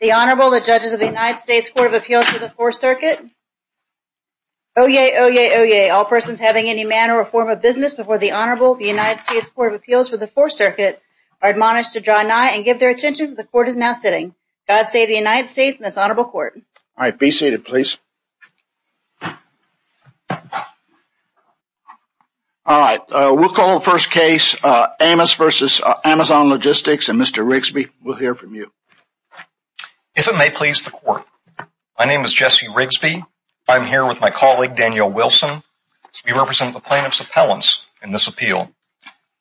The Honorable, the Judges of the United States Court of Appeals for the Fourth Circuit. Oyez, oyez, oyez, all persons having any manner or form of business before the Honorable, the United States Court of Appeals for the Fourth Circuit, are admonished to draw nigh and give their attention to the Court as now sitting. God save the United States and this Honorable Court. All right, be seated please. All right, we'll call the first case, Amos v. Amazon Logistics, and Mr. Rigsby, we'll hear from you. If it may please the Court, my name is Jesse Rigsby, I'm here with my colleague, Danielle Wilson. We represent the plaintiff's appellants in this appeal.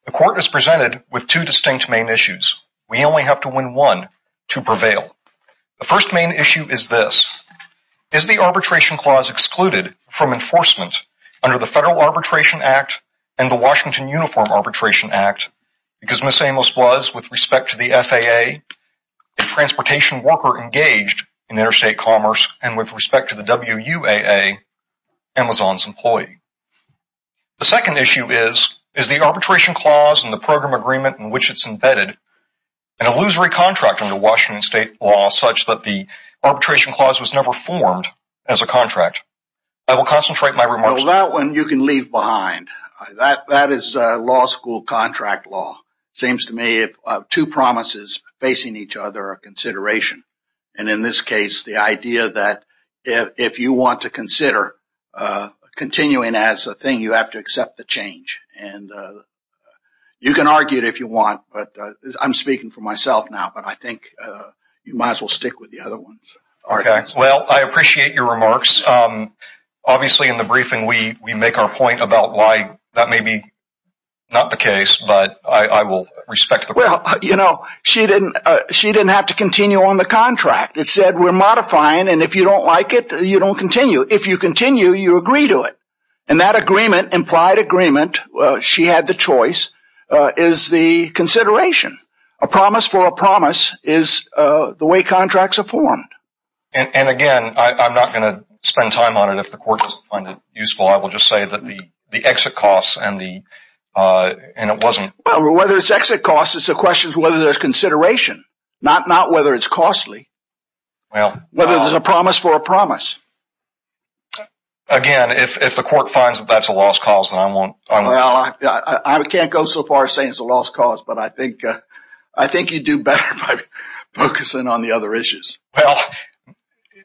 The Court is presented with two distinct main issues. We only have to win one to prevail. The first main issue is this, is the arbitration clause excluded from enforcement under the Federal Arbitration Act and the Washington Uniform Arbitration Act because Ms. Amos was, with respect to the FAA, a transportation worker engaged in interstate commerce and with respect to the WUAA, Amazon's employee. The second issue is, is the arbitration clause and the program agreement in which it's embedded an illusory contract under Washington state law such that the arbitration clause was never formed as a contract. I will concentrate my remarks- Well, that one you can leave behind. That is law school contract law. It seems to me if two promises facing each other are a consideration, and in this case, the idea that if you want to consider continuing as a thing, you have to accept the change. You can argue it if you want, but I'm speaking for myself now, but I think you might as well stick with the other ones. Okay. Well, I appreciate your remarks. Obviously, in the briefing, we make our point about why that may be not the case, but I will respect the- Well, you know, she didn't have to continue on the contract. It said we're modifying, and if you don't like it, you don't continue. If you continue, you agree to it. And that agreement, implied agreement, she had the choice, is the consideration. A promise for a promise is the way contracts are formed. And again, I'm not going to spend time on it if the court doesn't find it useful. I will just say that the exit costs and it wasn't- Well, whether it's exit costs, it's a question of whether there's consideration, not whether it's costly, whether there's a promise for a promise. Again, if the court finds that that's a lost cause, then I won't- Well, I can't go so far as saying it's a lost cause, but I think you'd do better by focusing on the other issues. Well,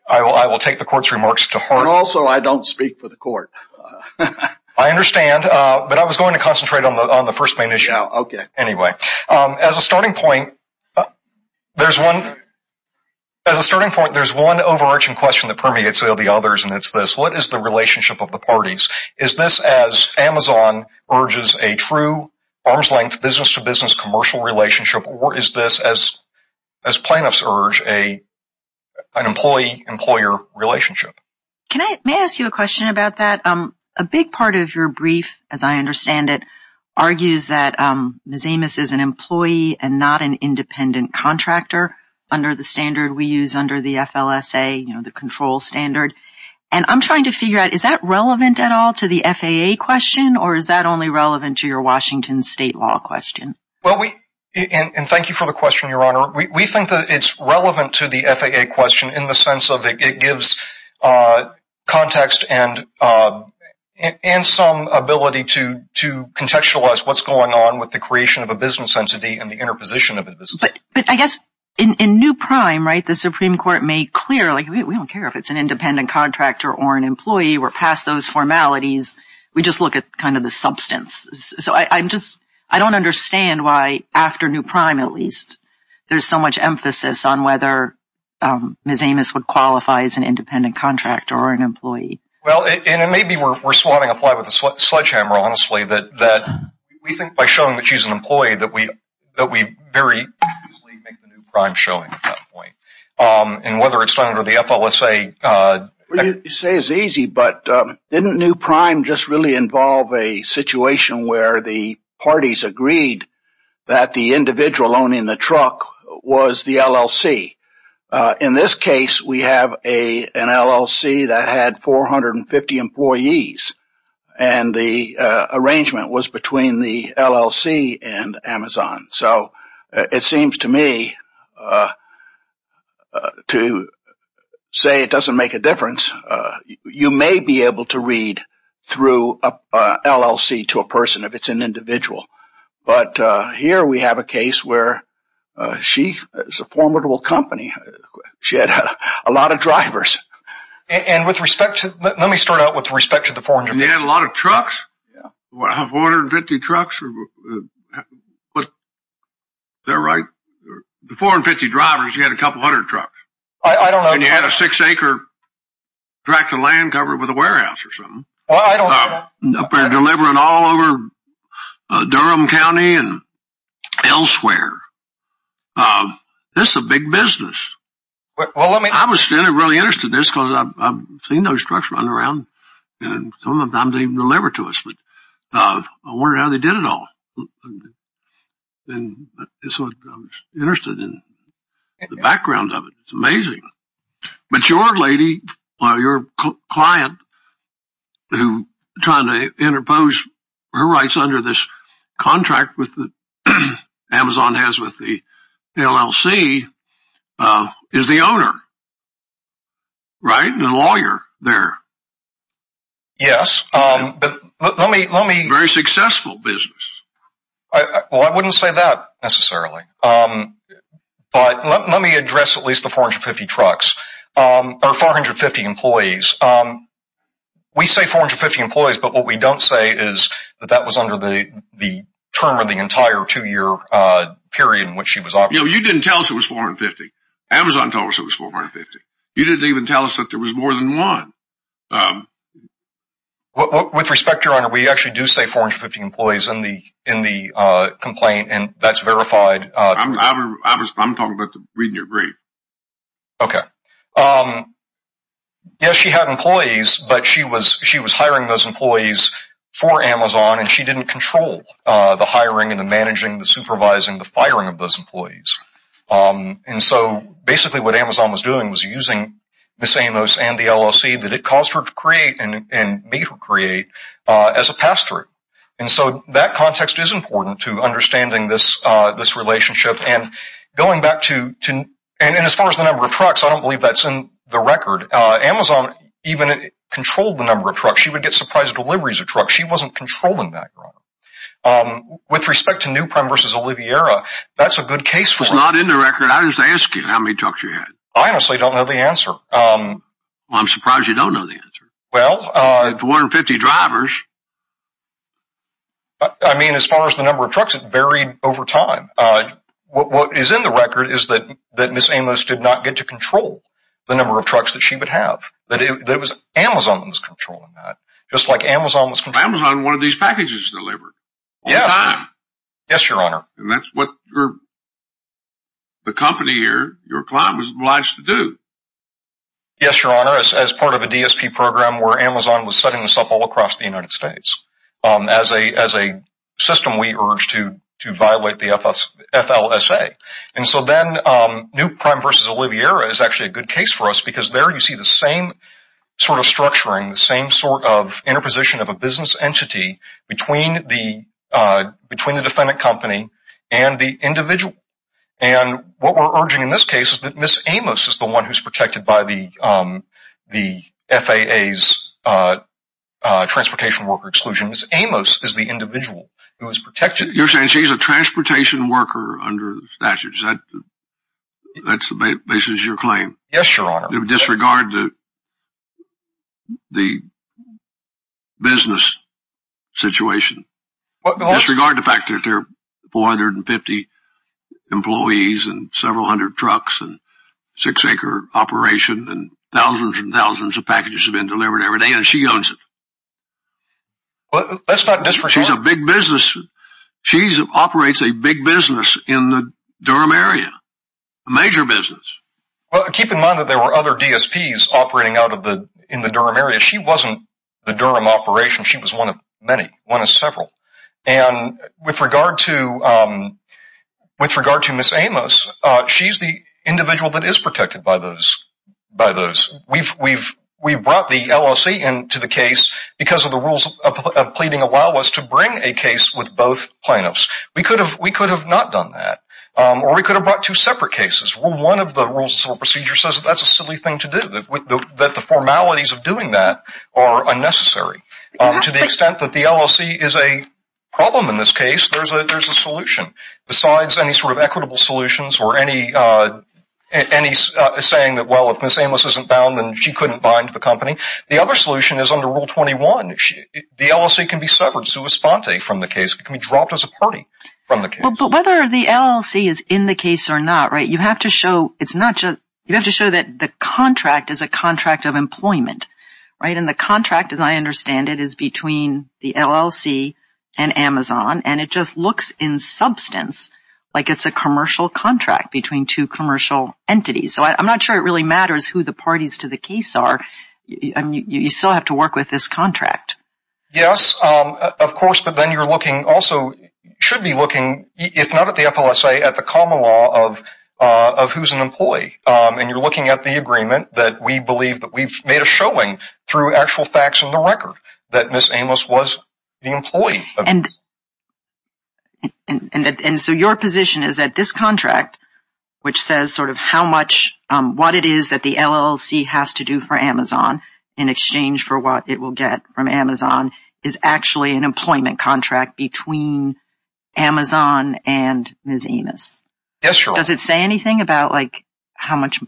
I will take the court's remarks to heart. And also, I don't speak for the court. I understand, but I was going to concentrate on the first main issue. Yeah, okay. Anyway, as a starting point, there's one overarching question that permeates all the others, and it's this. What is the relationship of the parties? Is this as Amazon urges a true, arm's-length, business-to-business commercial relationship, or is this, as plaintiffs urge, an employee-employer relationship? May I ask you a question about that? A big part of your brief, as I understand it, argues that Ms. Amos is an employee and not an independent contractor under the standard we use under the FLSA, the control standard. And I'm trying to figure out, is that relevant at all to the FAA question, or is that only relevant to your Washington state law question? And thank you for the question, Your Honor. We think that it's relevant to the FAA question in the sense of it gives context and some ability to contextualize what's going on with the creation of a business entity and the interposition of a business entity. But I guess in New Prime, right, the Supreme Court made clear, like, we don't care if it's an independent contractor or an employee. We're past those formalities. We just look at kind of the substance. So I'm just, I don't understand why, after New Prime at least, there's so much emphasis on whether Ms. Amos would qualify as an independent contractor or an employee. Well, and it may be we're swatting a fly with a sledgehammer, honestly, that we think by showing that she's an employee that we very easily make the New Prime showing at that point. And whether it's done under the FLSA. What you say is easy, but didn't New Prime just really involve a situation where the parties agreed that the individual owning the truck was the LLC? In this case, we have an LLC that had 450 employees. And the arrangement was between the LLC and Amazon. So it seems to me to say it doesn't make a difference. You may be able to read through an LLC to a person if it's an individual. But here we have a case where she is a formidable company. She had a lot of drivers. And with respect to, let me start out with respect to the 400. And they had a lot of trucks? Yeah. 450 trucks? Is that right? The 450 drivers, you had a couple hundred trucks. I don't know. And you had a six-acre tract of land covered with a warehouse or something. I don't know. Delivering all over Durham County and elsewhere. This is a big business. I was really interested in this because I've seen those trucks run around. And sometimes they even deliver to us. But I wondered how they did it all. And so I was interested in the background of it. It's amazing. But your lady, your client, who is trying to interpose her rights under this contract that Amazon has with the LLC, is the owner. Right? And a lawyer there. Yes. Very successful business. Well, I wouldn't say that necessarily. But let me address at least the 450 trucks. Or 450 employees. We say 450 employees, but what we don't say is that that was under the term of the entire two-year period in which she was operating. You didn't tell us it was 450. Amazon told us it was 450. You didn't even tell us that there was more than one. With respect, Your Honor, we actually do say 450 employees in the complaint. And that's verified. I'm talking about reading your brief. Okay. Yes, she had employees. But she was hiring those employees for Amazon. And she didn't control the hiring and the managing, the supervising, the firing of those employees. And so basically what Amazon was doing was using Ms. Amos and the LLC that it caused her to create and made her create as a pass-through. And so that context is important to understanding this relationship. And going back to – and as far as the number of trucks, I don't believe that's in the record. Amazon even controlled the number of trucks. She would get surprise deliveries of trucks. She wasn't controlling that, Your Honor. With respect to New Prem v. Oliviera, that's a good case for it. It's not in the record. I just asked you how many trucks you had. I honestly don't know the answer. Well, I'm surprised you don't know the answer. 250 drivers. I mean, as far as the number of trucks, it varied over time. What is in the record is that Ms. Amos did not get to control the number of trucks that she would have. It was Amazon that was controlling that. Just like Amazon was controlling. Amazon wanted these packages delivered. Yes. All the time. Yes, Your Honor. And that's what the company here, your client, was obliged to do. Yes, Your Honor. As part of a DSP program where Amazon was setting this up all across the United States as a system, we urged to violate the FLSA. And so then New Prem v. Oliviera is actually a good case for us because there you see the same sort of structuring, the same sort of interposition of a business entity between the defendant company and the individual. And what we're urging in this case is that Ms. Amos is the individual who is protected. You're saying she's a transportation worker under the statutes. That's the basis of your claim. Yes, Your Honor. Disregard the business situation. Disregard the fact that there are 450 employees and several hundred trucks and six-acre operation and thousands and thousands of packages have been delivered every day and she owns it. Well, that's not just for sure. She's a big business. She operates a big business in the Durham area, a major business. Well, keep in mind that there were other DSPs operating in the Durham area. She wasn't the Durham operation. She was one of many, one of several. And with regard to Ms. Amos, she's the individual that is protected by those. We've brought the LLC into the case because of the rules of pleading allow us to bring a case with both plaintiffs. We could have not done that. Or we could have brought two separate cases. Well, one of the rules of civil procedure says that's a silly thing to do, that the formalities of doing that are unnecessary to the extent that the LLC is a problem in this case. There's a solution. Besides any sort of equitable solutions or any saying that, well, if Ms. Amos isn't bound, then she couldn't bind the company, the other solution is under Rule 21. The LLC can be severed sua sponte from the case. It can be dropped as a party from the case. But whether the LLC is in the case or not, right, you have to show it's not just, you have to show that the contract is a contract of employment, right? And the contract, as I understand it, is between the LLC and Amazon, and it just looks in substance like it's a commercial contract between two commercial entities. So I'm not sure it really matters who the parties to the case are. You still have to work with this contract. Yes, of course, but then you're looking also, should be looking, if not at the FLSA, at the common law of who's an employee. And you're looking at the agreement that we believe that we've made a showing through actual facts in the record that Ms. Amos was the employee. And so your position is that this contract, which says sort of how much what it is that the LLC has to do for Amazon in exchange for what it will get from Amazon, is actually an employment contract between Amazon and Ms. Amos. Yes, sure. Does it say anything about like how much,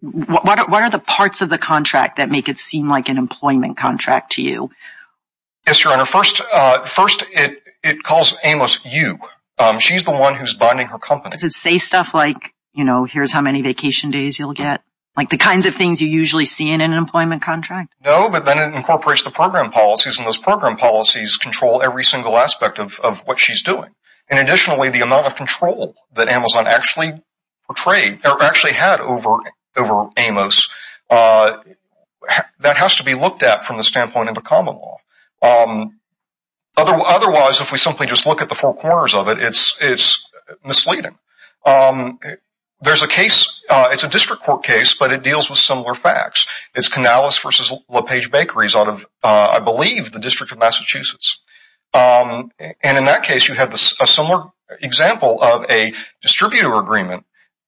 what are the parts of the contract that make it seem like an employment contract to you? Yes, Your Honor. First, it calls Amos you. She's the one who's bonding her company. Does it say stuff like, you know, here's how many vacation days you'll get? Like the kinds of things you usually see in an employment contract? No, but then it incorporates the program policies, and those program policies control every single aspect of what she's doing. And additionally, the amount of control that Amazon actually portrayed or actually had over Amos, that has to be looked at from the standpoint of a common law. Otherwise, if we simply just look at the four corners of it, it's misleading. There's a case, it's a district court case, but it deals with similar facts. It's Canales v. LaPage Bakeries out of, I believe, the District of Massachusetts. And in that case, you have a similar example of a distributor agreement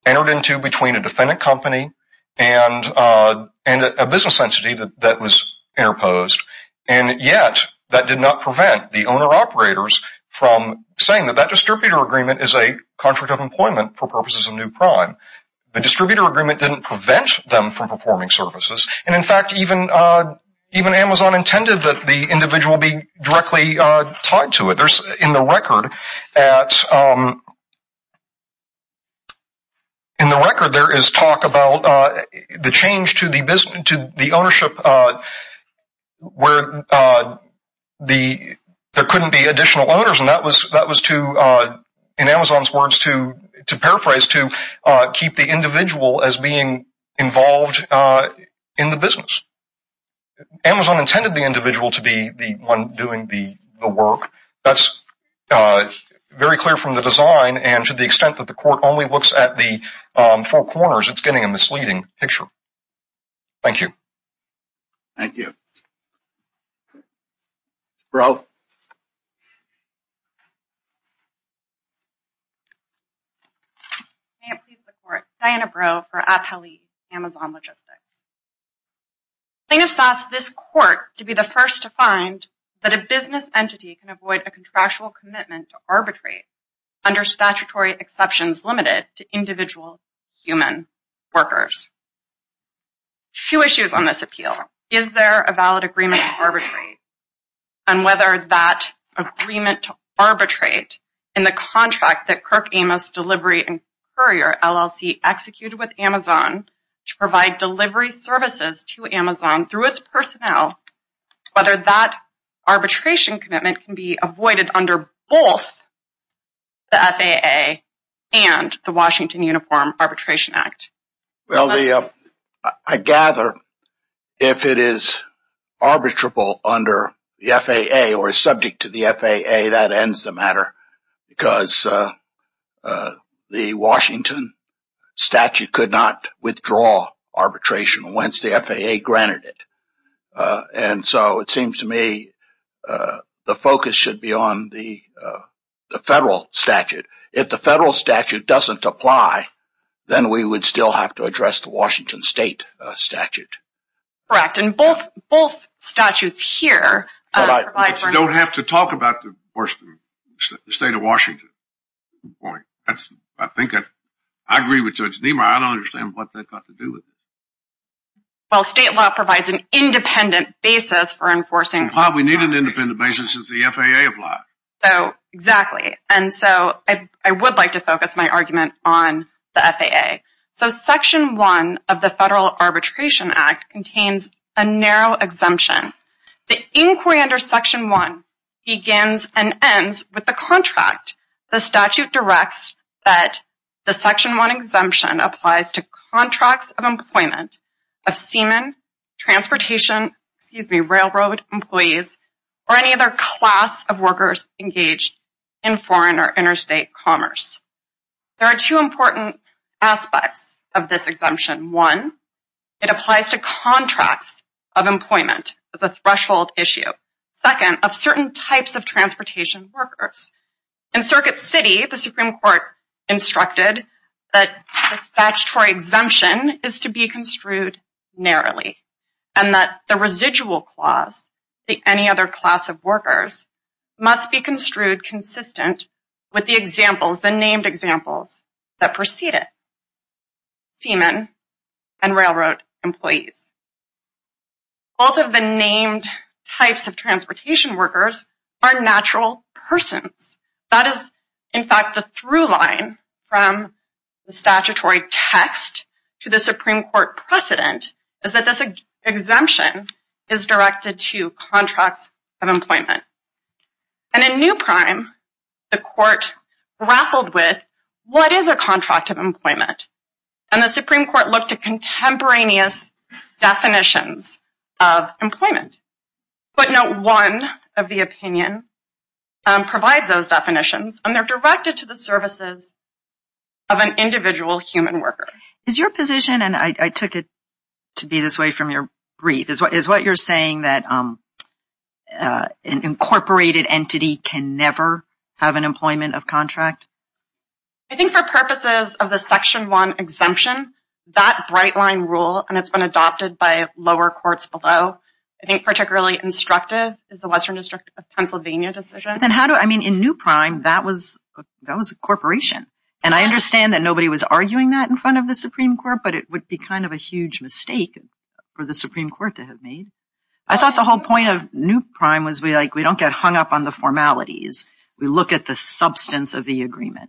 entered into between a defendant company and a business entity that was interposed. And yet, that did not prevent the owner-operators from saying that that distributor agreement is a contract of employment for purposes of new crime. The distributor agreement didn't prevent them from performing services. And in fact, even Amazon intended that the individual be directly tied to it. In the record, there is talk about the change to the ownership where there couldn't be additional owners. And that was, in Amazon's words, to paraphrase, to keep the individual as being involved in the business. Amazon intended the individual to be the one doing the work. That's very clear from the design. And to the extent that the court only looks at the four corners, it's getting a misleading picture. Thank you. Thank you. Breaux? May it please the Court, Diana Breaux for Appellee Amazon Logistics. plaintiffs asked this court to be the first to find that a business entity can avoid a contractual commitment to arbitrate under statutory exceptions limited to individual human workers. A few issues on this appeal. Is there a valid agreement to arbitrate? And whether that agreement to arbitrate in the contract that Kirk Amos Delivery and Courier LLC executed with Amazon to provide delivery services to Amazon through its personnel, whether that arbitration commitment can be avoided under both the FAA and the Washington Uniform Arbitration Act? Well, I gather if it is arbitrable under the FAA or subject to the FAA, that ends the matter because the Washington statute could not withdraw arbitration once the FAA granted it. And so it seems to me the focus should be on the federal statute. If the federal statute doesn't apply, then we would still have to address the Washington state statute. Correct. And both statutes here. Don't have to talk about the state of Washington. I think I agree with Judge Niemeyer. I don't understand what they've got to do with it. Well, state law provides an independent basis for enforcing. We need an independent basis since the FAA applies. Exactly. And so I would like to focus my argument on the FAA. So Section 1 of the Federal Arbitration Act contains a narrow exemption. The inquiry under Section 1 begins and ends with the contract. The statute directs that the Section 1 exemption applies to contracts of employment, of seamen, transportation, excuse me, railroad employees, or any other class of workers engaged in foreign or interstate commerce. There are two important aspects of this exemption. One, it applies to contracts of employment as a threshold issue. Second, of certain types of transportation workers. In Circuit City, the Supreme Court instructed that this statutory exemption is to be construed narrowly and that the residual clause, the any other class of workers, must be construed consistent with the examples, the named examples that precede it. Seamen and railroad employees. Both of the named types of transportation workers are natural persons. That is, in fact, the through line from the statutory text to the Supreme Court precedent is that this exemption is directed to contracts of employment. And in New Prime, the court grappled with, what is a contract of employment? And the Supreme Court looked at contemporaneous definitions of employment. But not one of the opinion provides those definitions and they're directed to the services of an individual human worker. Is your position, and I took it to be this way from your brief, is what you're saying that an incorporated entity can never have an employment of contract? I think for purposes of the Section 1 exemption, that bright line rule, and it's been adopted by lower courts below, I think particularly instructive is the Western District of Pennsylvania decision. And how do, I mean, in New Prime, that was a corporation. And I understand that nobody was arguing that in front of the Supreme Court, but it would be kind of a huge mistake for the Supreme Court to have made. I thought the whole point of New Prime was we don't get hung up on the formalities. We look at the substance of the agreement.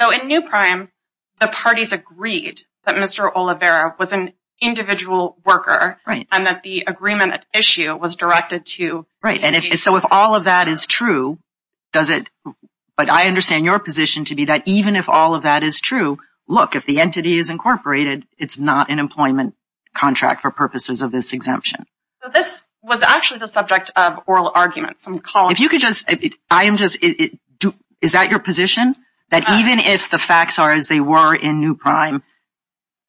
So in New Prime, the parties agreed that Mr. Oliveira was an individual worker Right, so if all of that is true, does it, but I understand your position to be that even if all of that is true, look, if the entity is incorporated, it's not an employment contract for purposes of this exemption. This was actually the subject of oral arguments. If you could just, I am just, is that your position? That even if the facts are as they were in New Prime,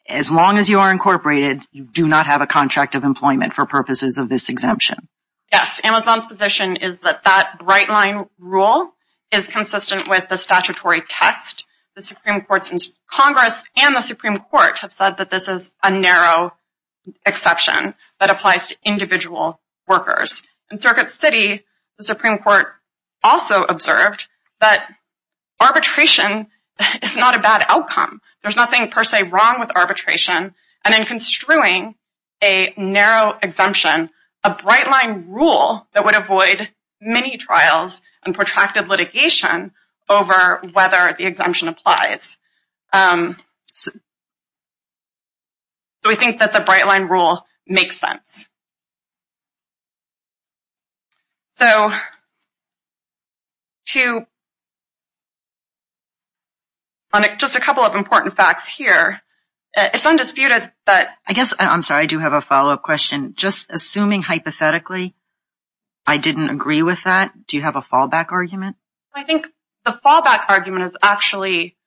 as long as you are incorporated, you do not have a contract of employment for purposes of this exemption? Yes, Amazon's position is that that bright line rule is consistent with the statutory text. The Supreme Court, since Congress and the Supreme Court have said that this is a narrow exception that applies to individual workers. In Circuit City, the Supreme Court also observed that arbitration is not a bad outcome. There's nothing per se wrong with arbitration. And in construing a narrow exemption, a bright line rule that would avoid many trials and protracted litigation over whether the exemption applies. So we think that the bright line rule makes sense. So, just a couple of important facts here. It's undisputed that... I guess, I'm sorry, I do have a follow-up question. Just assuming hypothetically I didn't agree with that, do you have a fallback argument? I think the fallback argument is actually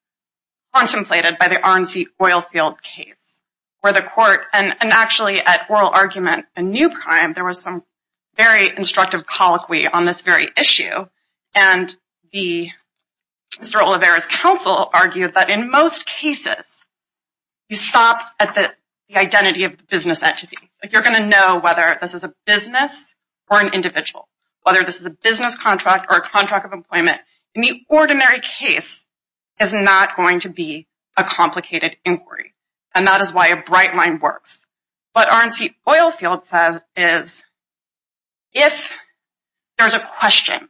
contemplated by the RNC oil field case where the court, and actually at oral argument and new crime, there was some very instructive colloquy on this very issue. And the Mr. Olivares' counsel argued that in most cases, you stop at the identity of the business entity. You're going to know whether this is a business or an individual, whether this is a business contract or a contract of employment. In the ordinary case, it's not going to be a complicated inquiry. And that is why a bright line works. What RNC oil field says is if there's a question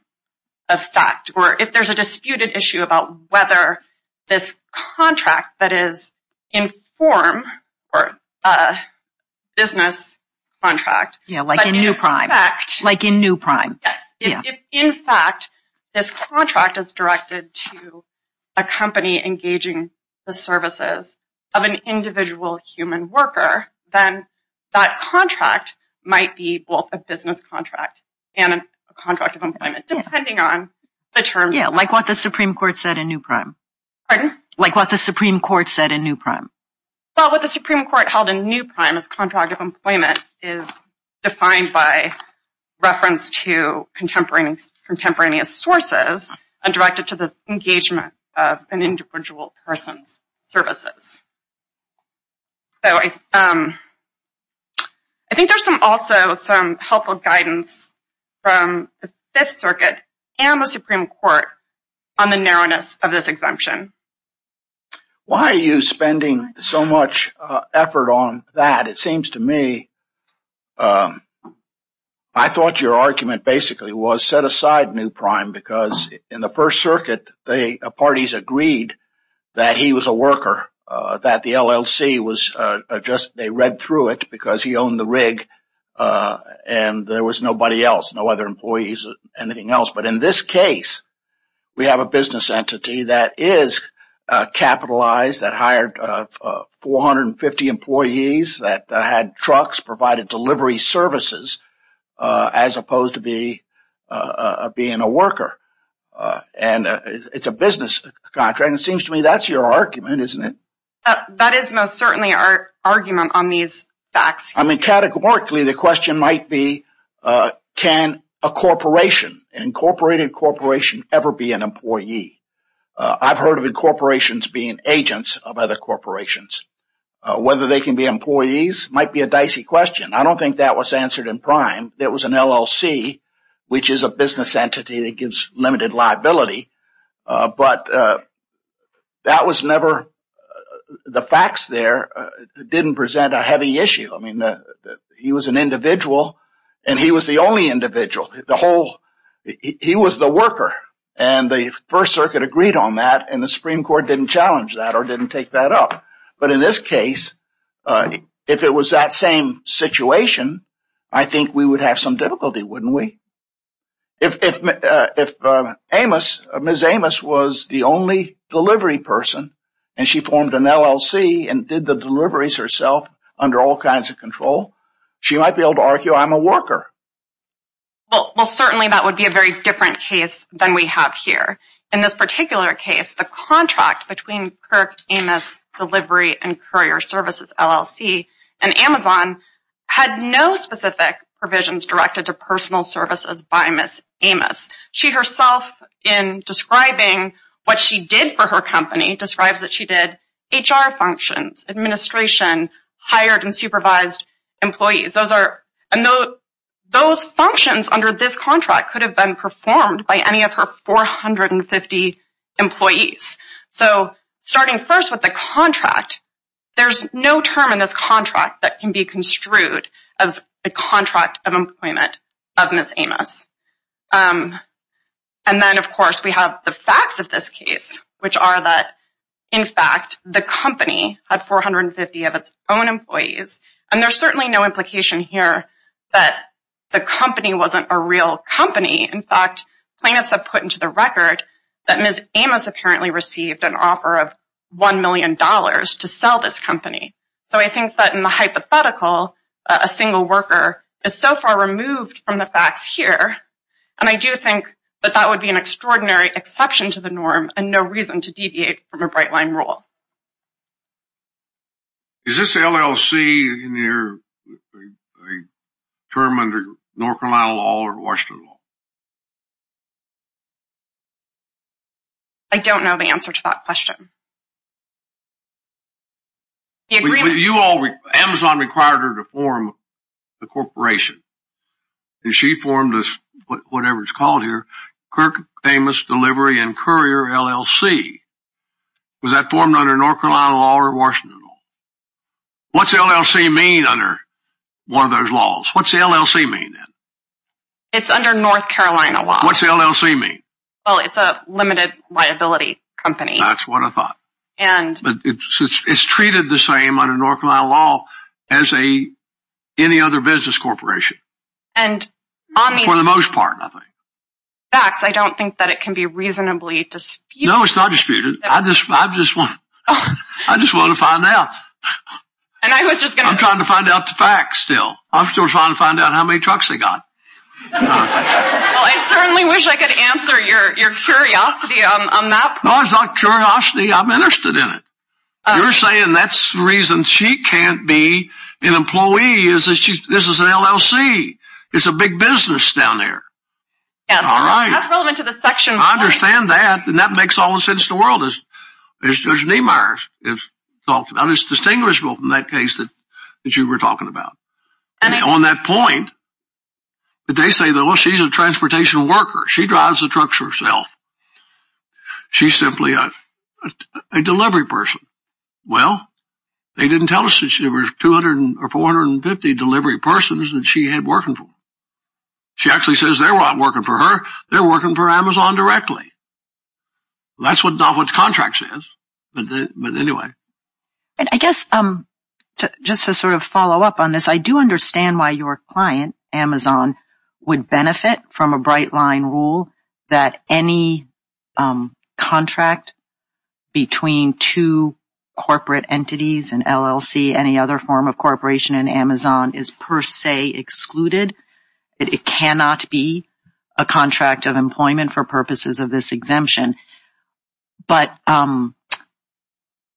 of fact or if there's a disputed issue about whether this contract that is in form or a business contract... Yeah, like in new crime. Like in new crime. Yes. If, in fact, this contract is directed to a company engaging the services of an individual human worker, then that contract might be both a business contract and a contract of employment, depending on the terms. Yeah, like what the Supreme Court said in new crime. Pardon? Like what the Supreme Court said in new crime. Well, what the Supreme Court held in new crime as contract of employment is defined by reference to contemporaneous sources and directed to the engagement of an individual person's services. So I think there's also some helpful guidance from the Fifth Circuit and the Supreme Court on the narrowness of this exemption. Why are you spending so much effort on that? It seems to me I thought your argument basically was set aside new crime because in the First Circuit, the parties agreed that he was a worker, that the LLC was just they read through it because he owned the rig and there was nobody else, no other employees, anything else. But in this case, we have a business entity that is capitalized, that hired 450 employees, that had trucks, provided delivery services, as opposed to being a worker. And it's a business contract. It seems to me that's your argument, isn't it? That is most certainly our argument on these facts. I mean, categorically, the question might be can a corporation, an incorporated corporation, ever be an employee? I've heard of incorporations being agents of other corporations. Whether they can be employees might be a dicey question. I don't think that was answered in prime. It was an LLC, which is a business entity that gives limited liability. But that was never the facts there didn't present a heavy issue. I mean, he was an individual and he was the only individual. He was the worker and the First Circuit agreed on that and the Supreme Court didn't challenge that or didn't take that up. But in this case, if it was that same situation, I think we would have some difficulty, wouldn't we? If Ms. Amos was the only delivery person and she formed an LLC and did the deliveries herself under all kinds of control, she might be able to argue I'm a worker. Well, certainly that would be a very different case than we have here. In this particular case, the contract between Kirk Amos Delivery and Courier Services, LLC, and Amazon had no specific provisions directed to personal services by Ms. Amos. She herself, in describing what she did for her company, describes that she did HR functions, administration, hired and supervised employees. Those functions under this contract could have been performed by any of her 450 employees. So starting first with the contract, there's no term in this contract that can be construed as a contract of employment of Ms. Amos. And then, of course, we have the facts of this case, which are that, in fact, the company had 450 of its own employees. And there's certainly no implication here that the company wasn't a real company. In fact, plaintiffs have put into the record that Ms. Amos apparently received an offer of $1 million to sell this company. So I think that in the hypothetical, a single worker is so far removed from the facts here. And I do think that that would be an extraordinary exception to the norm and no reason to deviate from a bright line rule. Is this LLC a term under North Carolina law or Washington law? Amazon required her to form the corporation. And she formed this, whatever it's called here, Kirk Famous Delivery and Courier LLC. Was that formed under North Carolina law or Washington law? What's LLC mean under one of those laws? What's LLC mean then? It's under North Carolina law. What's LLC mean? Well, it's a limited liability company. That's what I thought. But it's treated the same under North Carolina law as any other business corporation. For the most part, I think. I don't think that it can be reasonably disputed. No, it's not disputed. I just want to find out. I'm trying to find out the facts still. I'm still trying to find out how many trucks they got. Well, I certainly wish I could answer your curiosity on that. No, it's not curiosity. I'm interested in it. You're saying that's the reason she can't be an employee is that this is an LLC. It's a big business down there. Yes, that's relevant to the section. I understand that. And that makes all the sense in the world, as Judge Niemeyer has talked about. It's distinguishable from that case that you were talking about. On that point, they say, well, she's a transportation worker. She drives the trucks herself. She's simply a delivery person. Well, they didn't tell us that there were 250 delivery persons that she had working for. She actually says they're not working for her. They're working for Amazon directly. That's not what the contract says. But anyway. I guess just to sort of follow up on this, I do understand why your client, Amazon, would benefit from a bright-line rule that any contract between two corporate entities, an LLC, any other form of corporation in Amazon, is per se excluded. It cannot be a contract of employment for purposes of this exemption. But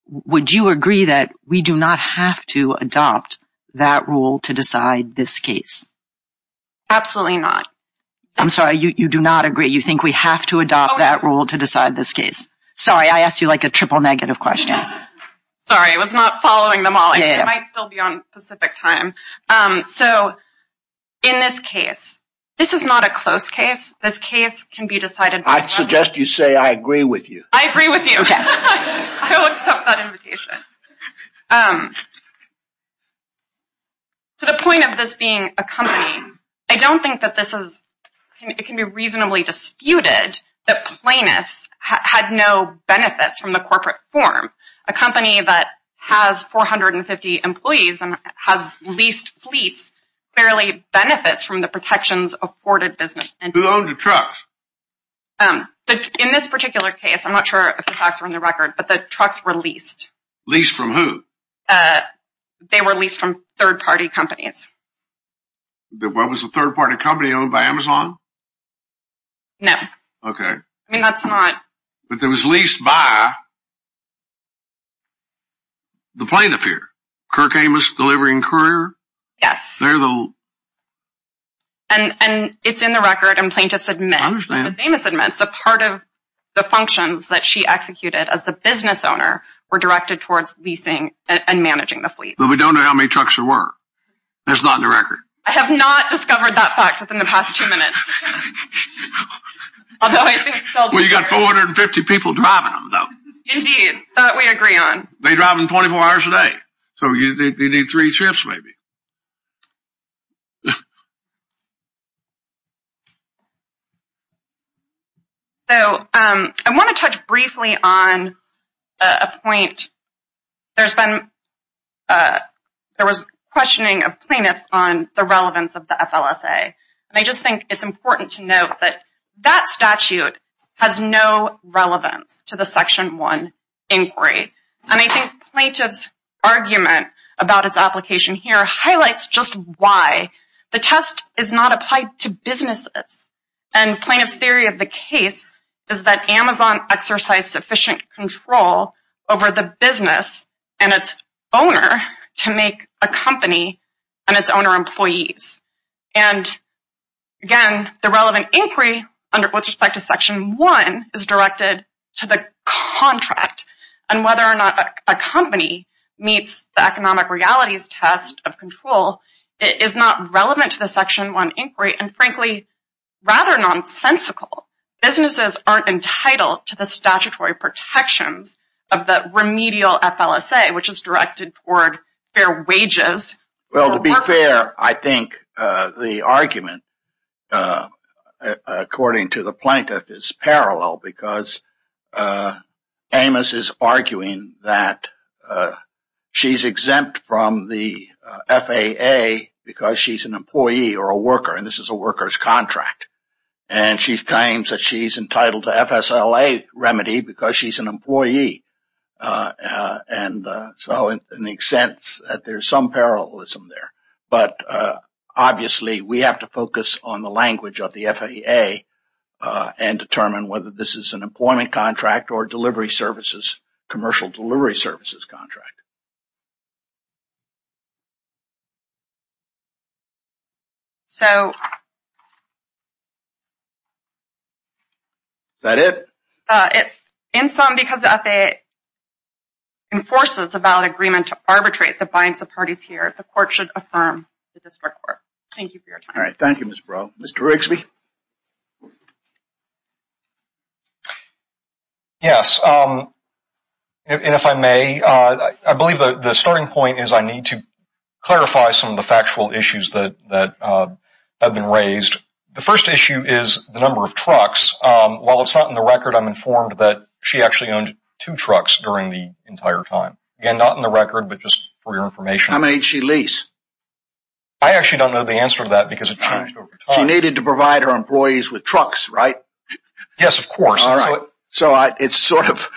would you agree that we do not have to adopt that rule to decide this case? Absolutely not. I'm sorry, you do not agree. You think we have to adopt that rule to decide this case. Sorry, I asked you like a triple negative question. Sorry, I was not following them all. I might still be on specific time. So, in this case, this is not a close case. This case can be decided. I suggest you say, I agree with you. I agree with you. I will accept that invitation. To the point of this being a company, I don't think that this is, it can be reasonably disputed that Plainus had no benefits from the corporate form. A company that has 450 employees and has leased fleets, barely benefits from the protections afforded business entities. Who owned the trucks? In this particular case, I'm not sure if the facts are on the record, but the trucks were leased. Leased from who? They were leased from third-party companies. Was the third-party company owned by Amazon? No. Okay. I mean, that's not... But it was leased by the plaintiff here, Kirk Amos Delivery and Courier? Yes. They're the... And it's in the record, and plaintiffs admit. I understand. Ms. Amos admits a part of the functions that she executed as the business owner were directed towards leasing and managing the fleet. But we don't know how many trucks there were. That's not in the record. I have not discovered that fact within the past two minutes. Well, you got 450 people driving them, though. Indeed. That we agree on. They drive them 24 hours a day. So, they need three trips, maybe. So, I want to touch briefly on a point. There's been... There was questioning of plaintiffs on the relevance of the FLSA. And I just think it's important to note that that statute has no relevance to the Section 1 inquiry. And I think plaintiff's argument about its application here highlights just why. The test is not applied to businesses. And plaintiff's theory of the case is that Amazon exercised sufficient control over the business and its owner to make a company and its owner employees. And, again, the relevant inquiry with respect to Section 1 is directed to the contract and whether or not a company meets the economic realities test of control is not relevant to the Section 1 inquiry and, frankly, rather nonsensical. Businesses aren't entitled to the statutory protections of the remedial FLSA, which is directed toward fair wages. Well, to be fair, I think the argument, according to the plaintiff, is parallel because Amos is arguing that she's exempt from the FAA because she's an employee or a worker. And this is a worker's contract. And she claims that she's entitled to FSLA remedy because she's an employee. And so, in the sense that there's some parallelism there. But, obviously, we have to focus on the language of the FAA and determine whether this is an employment contract or delivery services, commercial delivery services contract. So. Is that it? In sum, because the FAA enforces a valid agreement to arbitrate the binds of parties here, the court should affirm the district court. Thank you for your time. All right. Thank you, Ms. Breaux. Mr. Rigsby? Yes. And if I may, I believe the starting point is I need to clarify some of the factual issues that have been raised. The first issue is the number of trucks. While it's not in the record, I'm informed that she actually owned two trucks during the entire time. Again, not in the record, but just for your information. How many did she lease? I actually don't know the answer to that because it changed over time. She needed to provide her employees with trucks, right? Yes, of course. All right. So it's sort of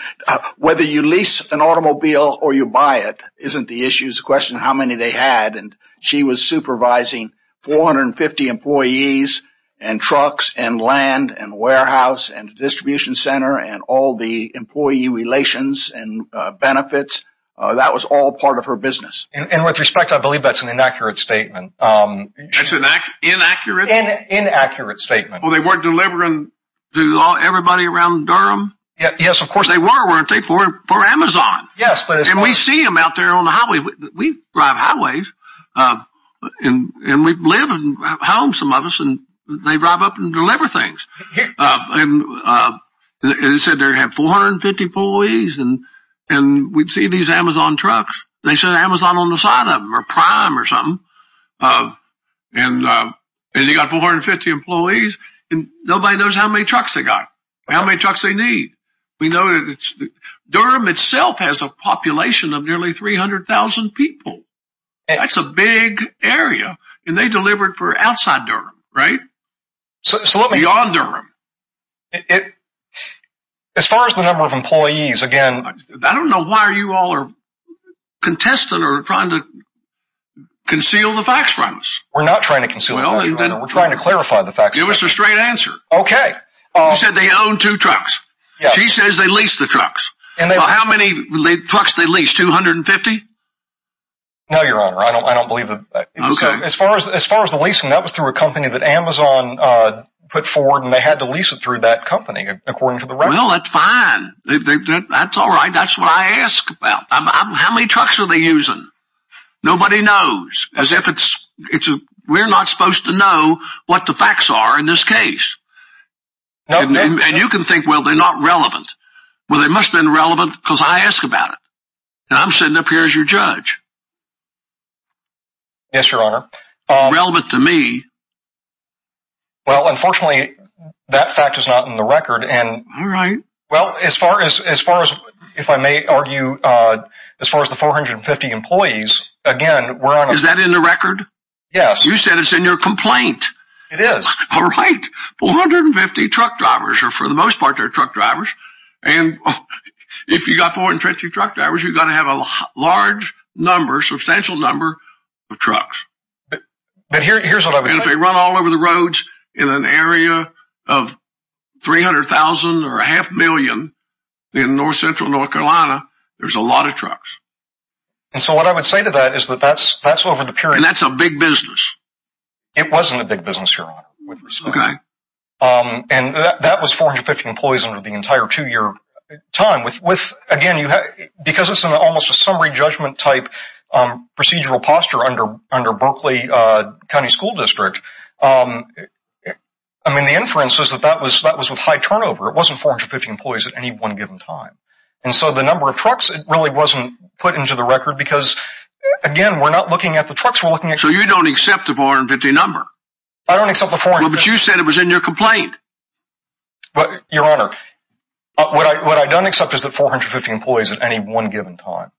whether you lease an automobile or you buy it isn't the issue. It's a question of how many they had. And she was supervising 450 employees and trucks and land and warehouse and distribution center and all the employee relations and benefits. That was all part of her business. And with respect, I believe that's an inaccurate statement. It's an inaccurate? Inaccurate statement. Well, they weren't delivering to everybody around Durham? Yes, of course. They were, weren't they, for Amazon? Yes. And we see them out there on the highways. We drive highways, and we live and have homes, some of us, and they drive up and deliver things. And it said they had 450 employees, and we see these Amazon trucks. And they said Amazon on the side of them or Prime or something. And they got 450 employees, and nobody knows how many trucks they got, how many trucks they need. We know that Durham itself has a population of nearly 300,000 people. That's a big area, and they delivered for outside Durham, right? Beyond Durham. As far as the number of employees, again. I don't know why you all are contesting or trying to conceal the facts from us. We're not trying to conceal the facts. We're trying to clarify the facts. Give us a straight answer. Okay. You said they owned two trucks. She says they leased the trucks. How many trucks did they lease, 250? No, Your Honor, I don't believe that. As far as the leasing, that was through a company that Amazon put forward, and they had to lease it through that company, according to the record. Well, that's fine. That's all right. That's what I ask about. How many trucks are they using? Nobody knows. As if it's – we're not supposed to know what the facts are in this case. And you can think, well, they're not relevant. Well, they must have been relevant because I ask about it. And I'm sitting up here as your judge. Yes, Your Honor. Relevant to me. Well, unfortunately, that fact is not in the record. All right. Well, as far as, if I may argue, as far as the 450 employees, again, we're on a – Is that in the record? Yes. You said it's in your complaint. It is. All right. 450 truck drivers are, for the most part, they're truck drivers. And if you've got 450 truck drivers, you've got to have a large number, substantial number of trucks. But here's what I would say. If they run all over the roads in an area of 300,000 or a half million in north, central North Carolina, there's a lot of trucks. And so what I would say to that is that that's over the period. And that's a big business. It wasn't a big business, Your Honor. Okay. And that was 450 employees under the entire two-year time. Again, because it's almost a summary judgment type procedural posture under Berkeley County School District, I mean, the inference is that that was with high turnover. It wasn't 450 employees at any one given time. And so the number of trucks, it really wasn't put into the record because, again, we're not looking at the trucks, we're looking at – So you don't accept the 450 number? I don't accept the 450 – Well, but you said it was in your complaint. Your Honor, what I don't accept is that 450 employees at any one given time.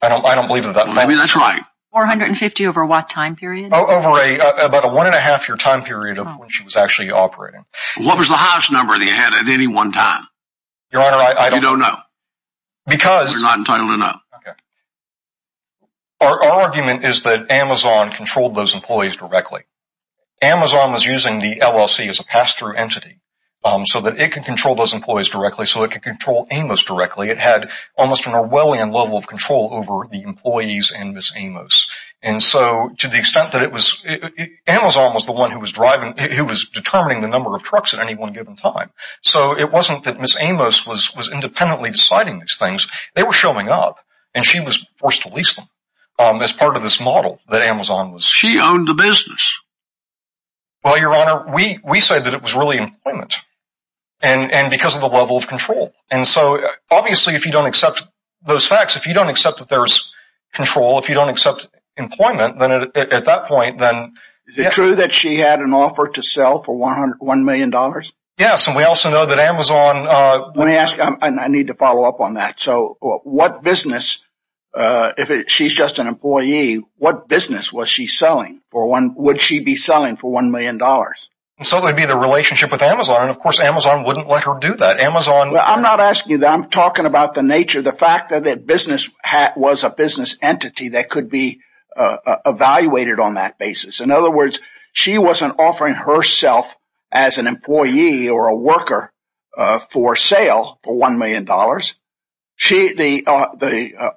I don't believe that that – I mean, that's right. 450 over what time period? Over about a one-and-a-half-year time period of when she was actually operating. What was the highest number that you had at any one time? Your Honor, I don't – You don't know. Because – You're not entitled to know. Okay. Our argument is that Amazon controlled those employees directly. Amazon was using the LLC as a pass-through entity so that it could control those employees directly, so it could control Amos directly. It had almost an Orwellian level of control over the employees and Ms. Amos. And so to the extent that it was – Amazon was the one who was driving – who was determining the number of trucks at any one given time. So it wasn't that Ms. Amos was independently deciding these things. They were showing up, and she was forced to lease them as part of this model that Amazon was – She owned the business. Well, Your Honor, we say that it was really employment and because of the level of control. And so obviously if you don't accept those facts, if you don't accept that there's control, if you don't accept employment, then at that point, then – Is it true that she had an offer to sell for $1 million? Yes, and we also know that Amazon – Let me ask you. I need to follow up on that. So what business – if she's just an employee, what business was she selling for one – would she be selling for $1 million? So that would be the relationship with Amazon. And, of course, Amazon wouldn't let her do that. Amazon – I'm not asking you that. I'm talking about the nature, the fact that business was a business entity that could be evaluated on that basis. In other words, she wasn't offering herself as an employee or a worker for sale for $1 million. The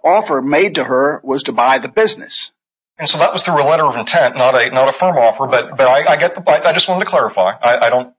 offer made to her was to buy the business. And so that was through a letter of intent, not a firm offer, but I get the point. I just wanted to clarify. I don't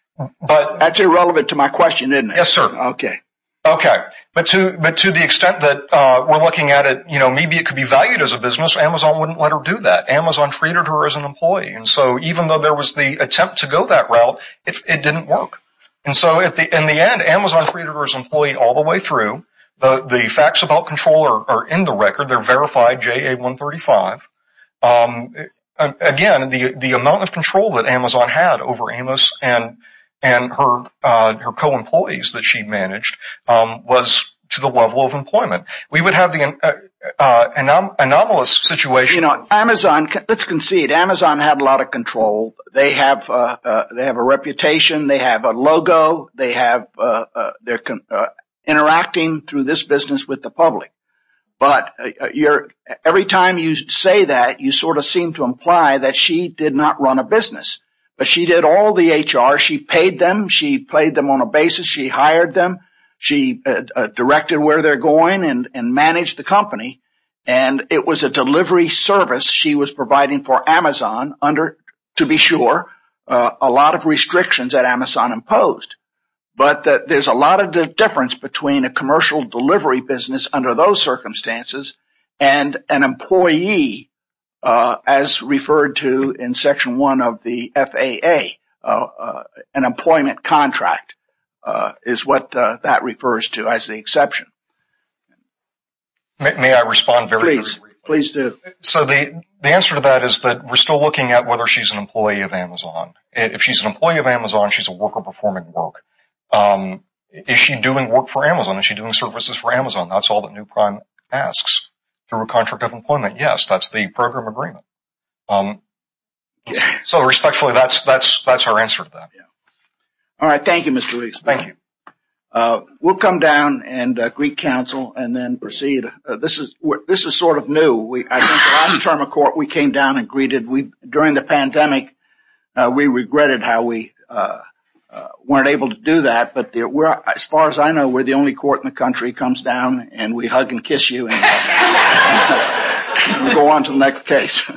– That's irrelevant to my question, isn't it? Yes, sir. Okay. Okay. But to the extent that we're looking at it, you know, maybe it could be valued as a business. Amazon wouldn't let her do that. Amazon treated her as an employee. And so even though there was the attempt to go that route, it didn't work. And so in the end, Amazon treated her as an employee all the way through. The facts about control are in the record. They're verified, JA-135. Again, the amount of control that Amazon had over Amos and her co-employees that she managed was to the level of employment. We would have the anomalous situation. You know, Amazon – let's concede. Amazon had a lot of control. They have a reputation. They have a logo. They have – they're interacting through this business with the public. But every time you say that, you sort of seem to imply that she did not run a business. But she did all the HR. She paid them. She paid them on a basis. She hired them. She directed where they're going and managed the company. And it was a delivery service she was providing for Amazon under, to be sure, a lot of restrictions that Amazon imposed. But there's a lot of difference between a commercial delivery business under those circumstances and an employee, as referred to in Section 1 of the FAA, an employment contract, is what that refers to as the exception. May I respond very briefly? Please. Please do. So the answer to that is that we're still looking at whether she's an employee of Amazon. If she's an employee of Amazon, she's a worker performing work. Is she doing work for Amazon? Is she doing services for Amazon? That's all that new prime asks through a contract of employment. Yes, that's the program agreement. So respectfully, that's our answer to that. All right. Thank you, Mr. Rees. Thank you. We'll come down and greet counsel and then proceed. This is sort of new. I think the last term of court, we came down and greeted. During the pandemic, we regretted how we weren't able to do that. But as far as I know, we're the only court in the country comes down and we hug and kiss you and go on to the next case.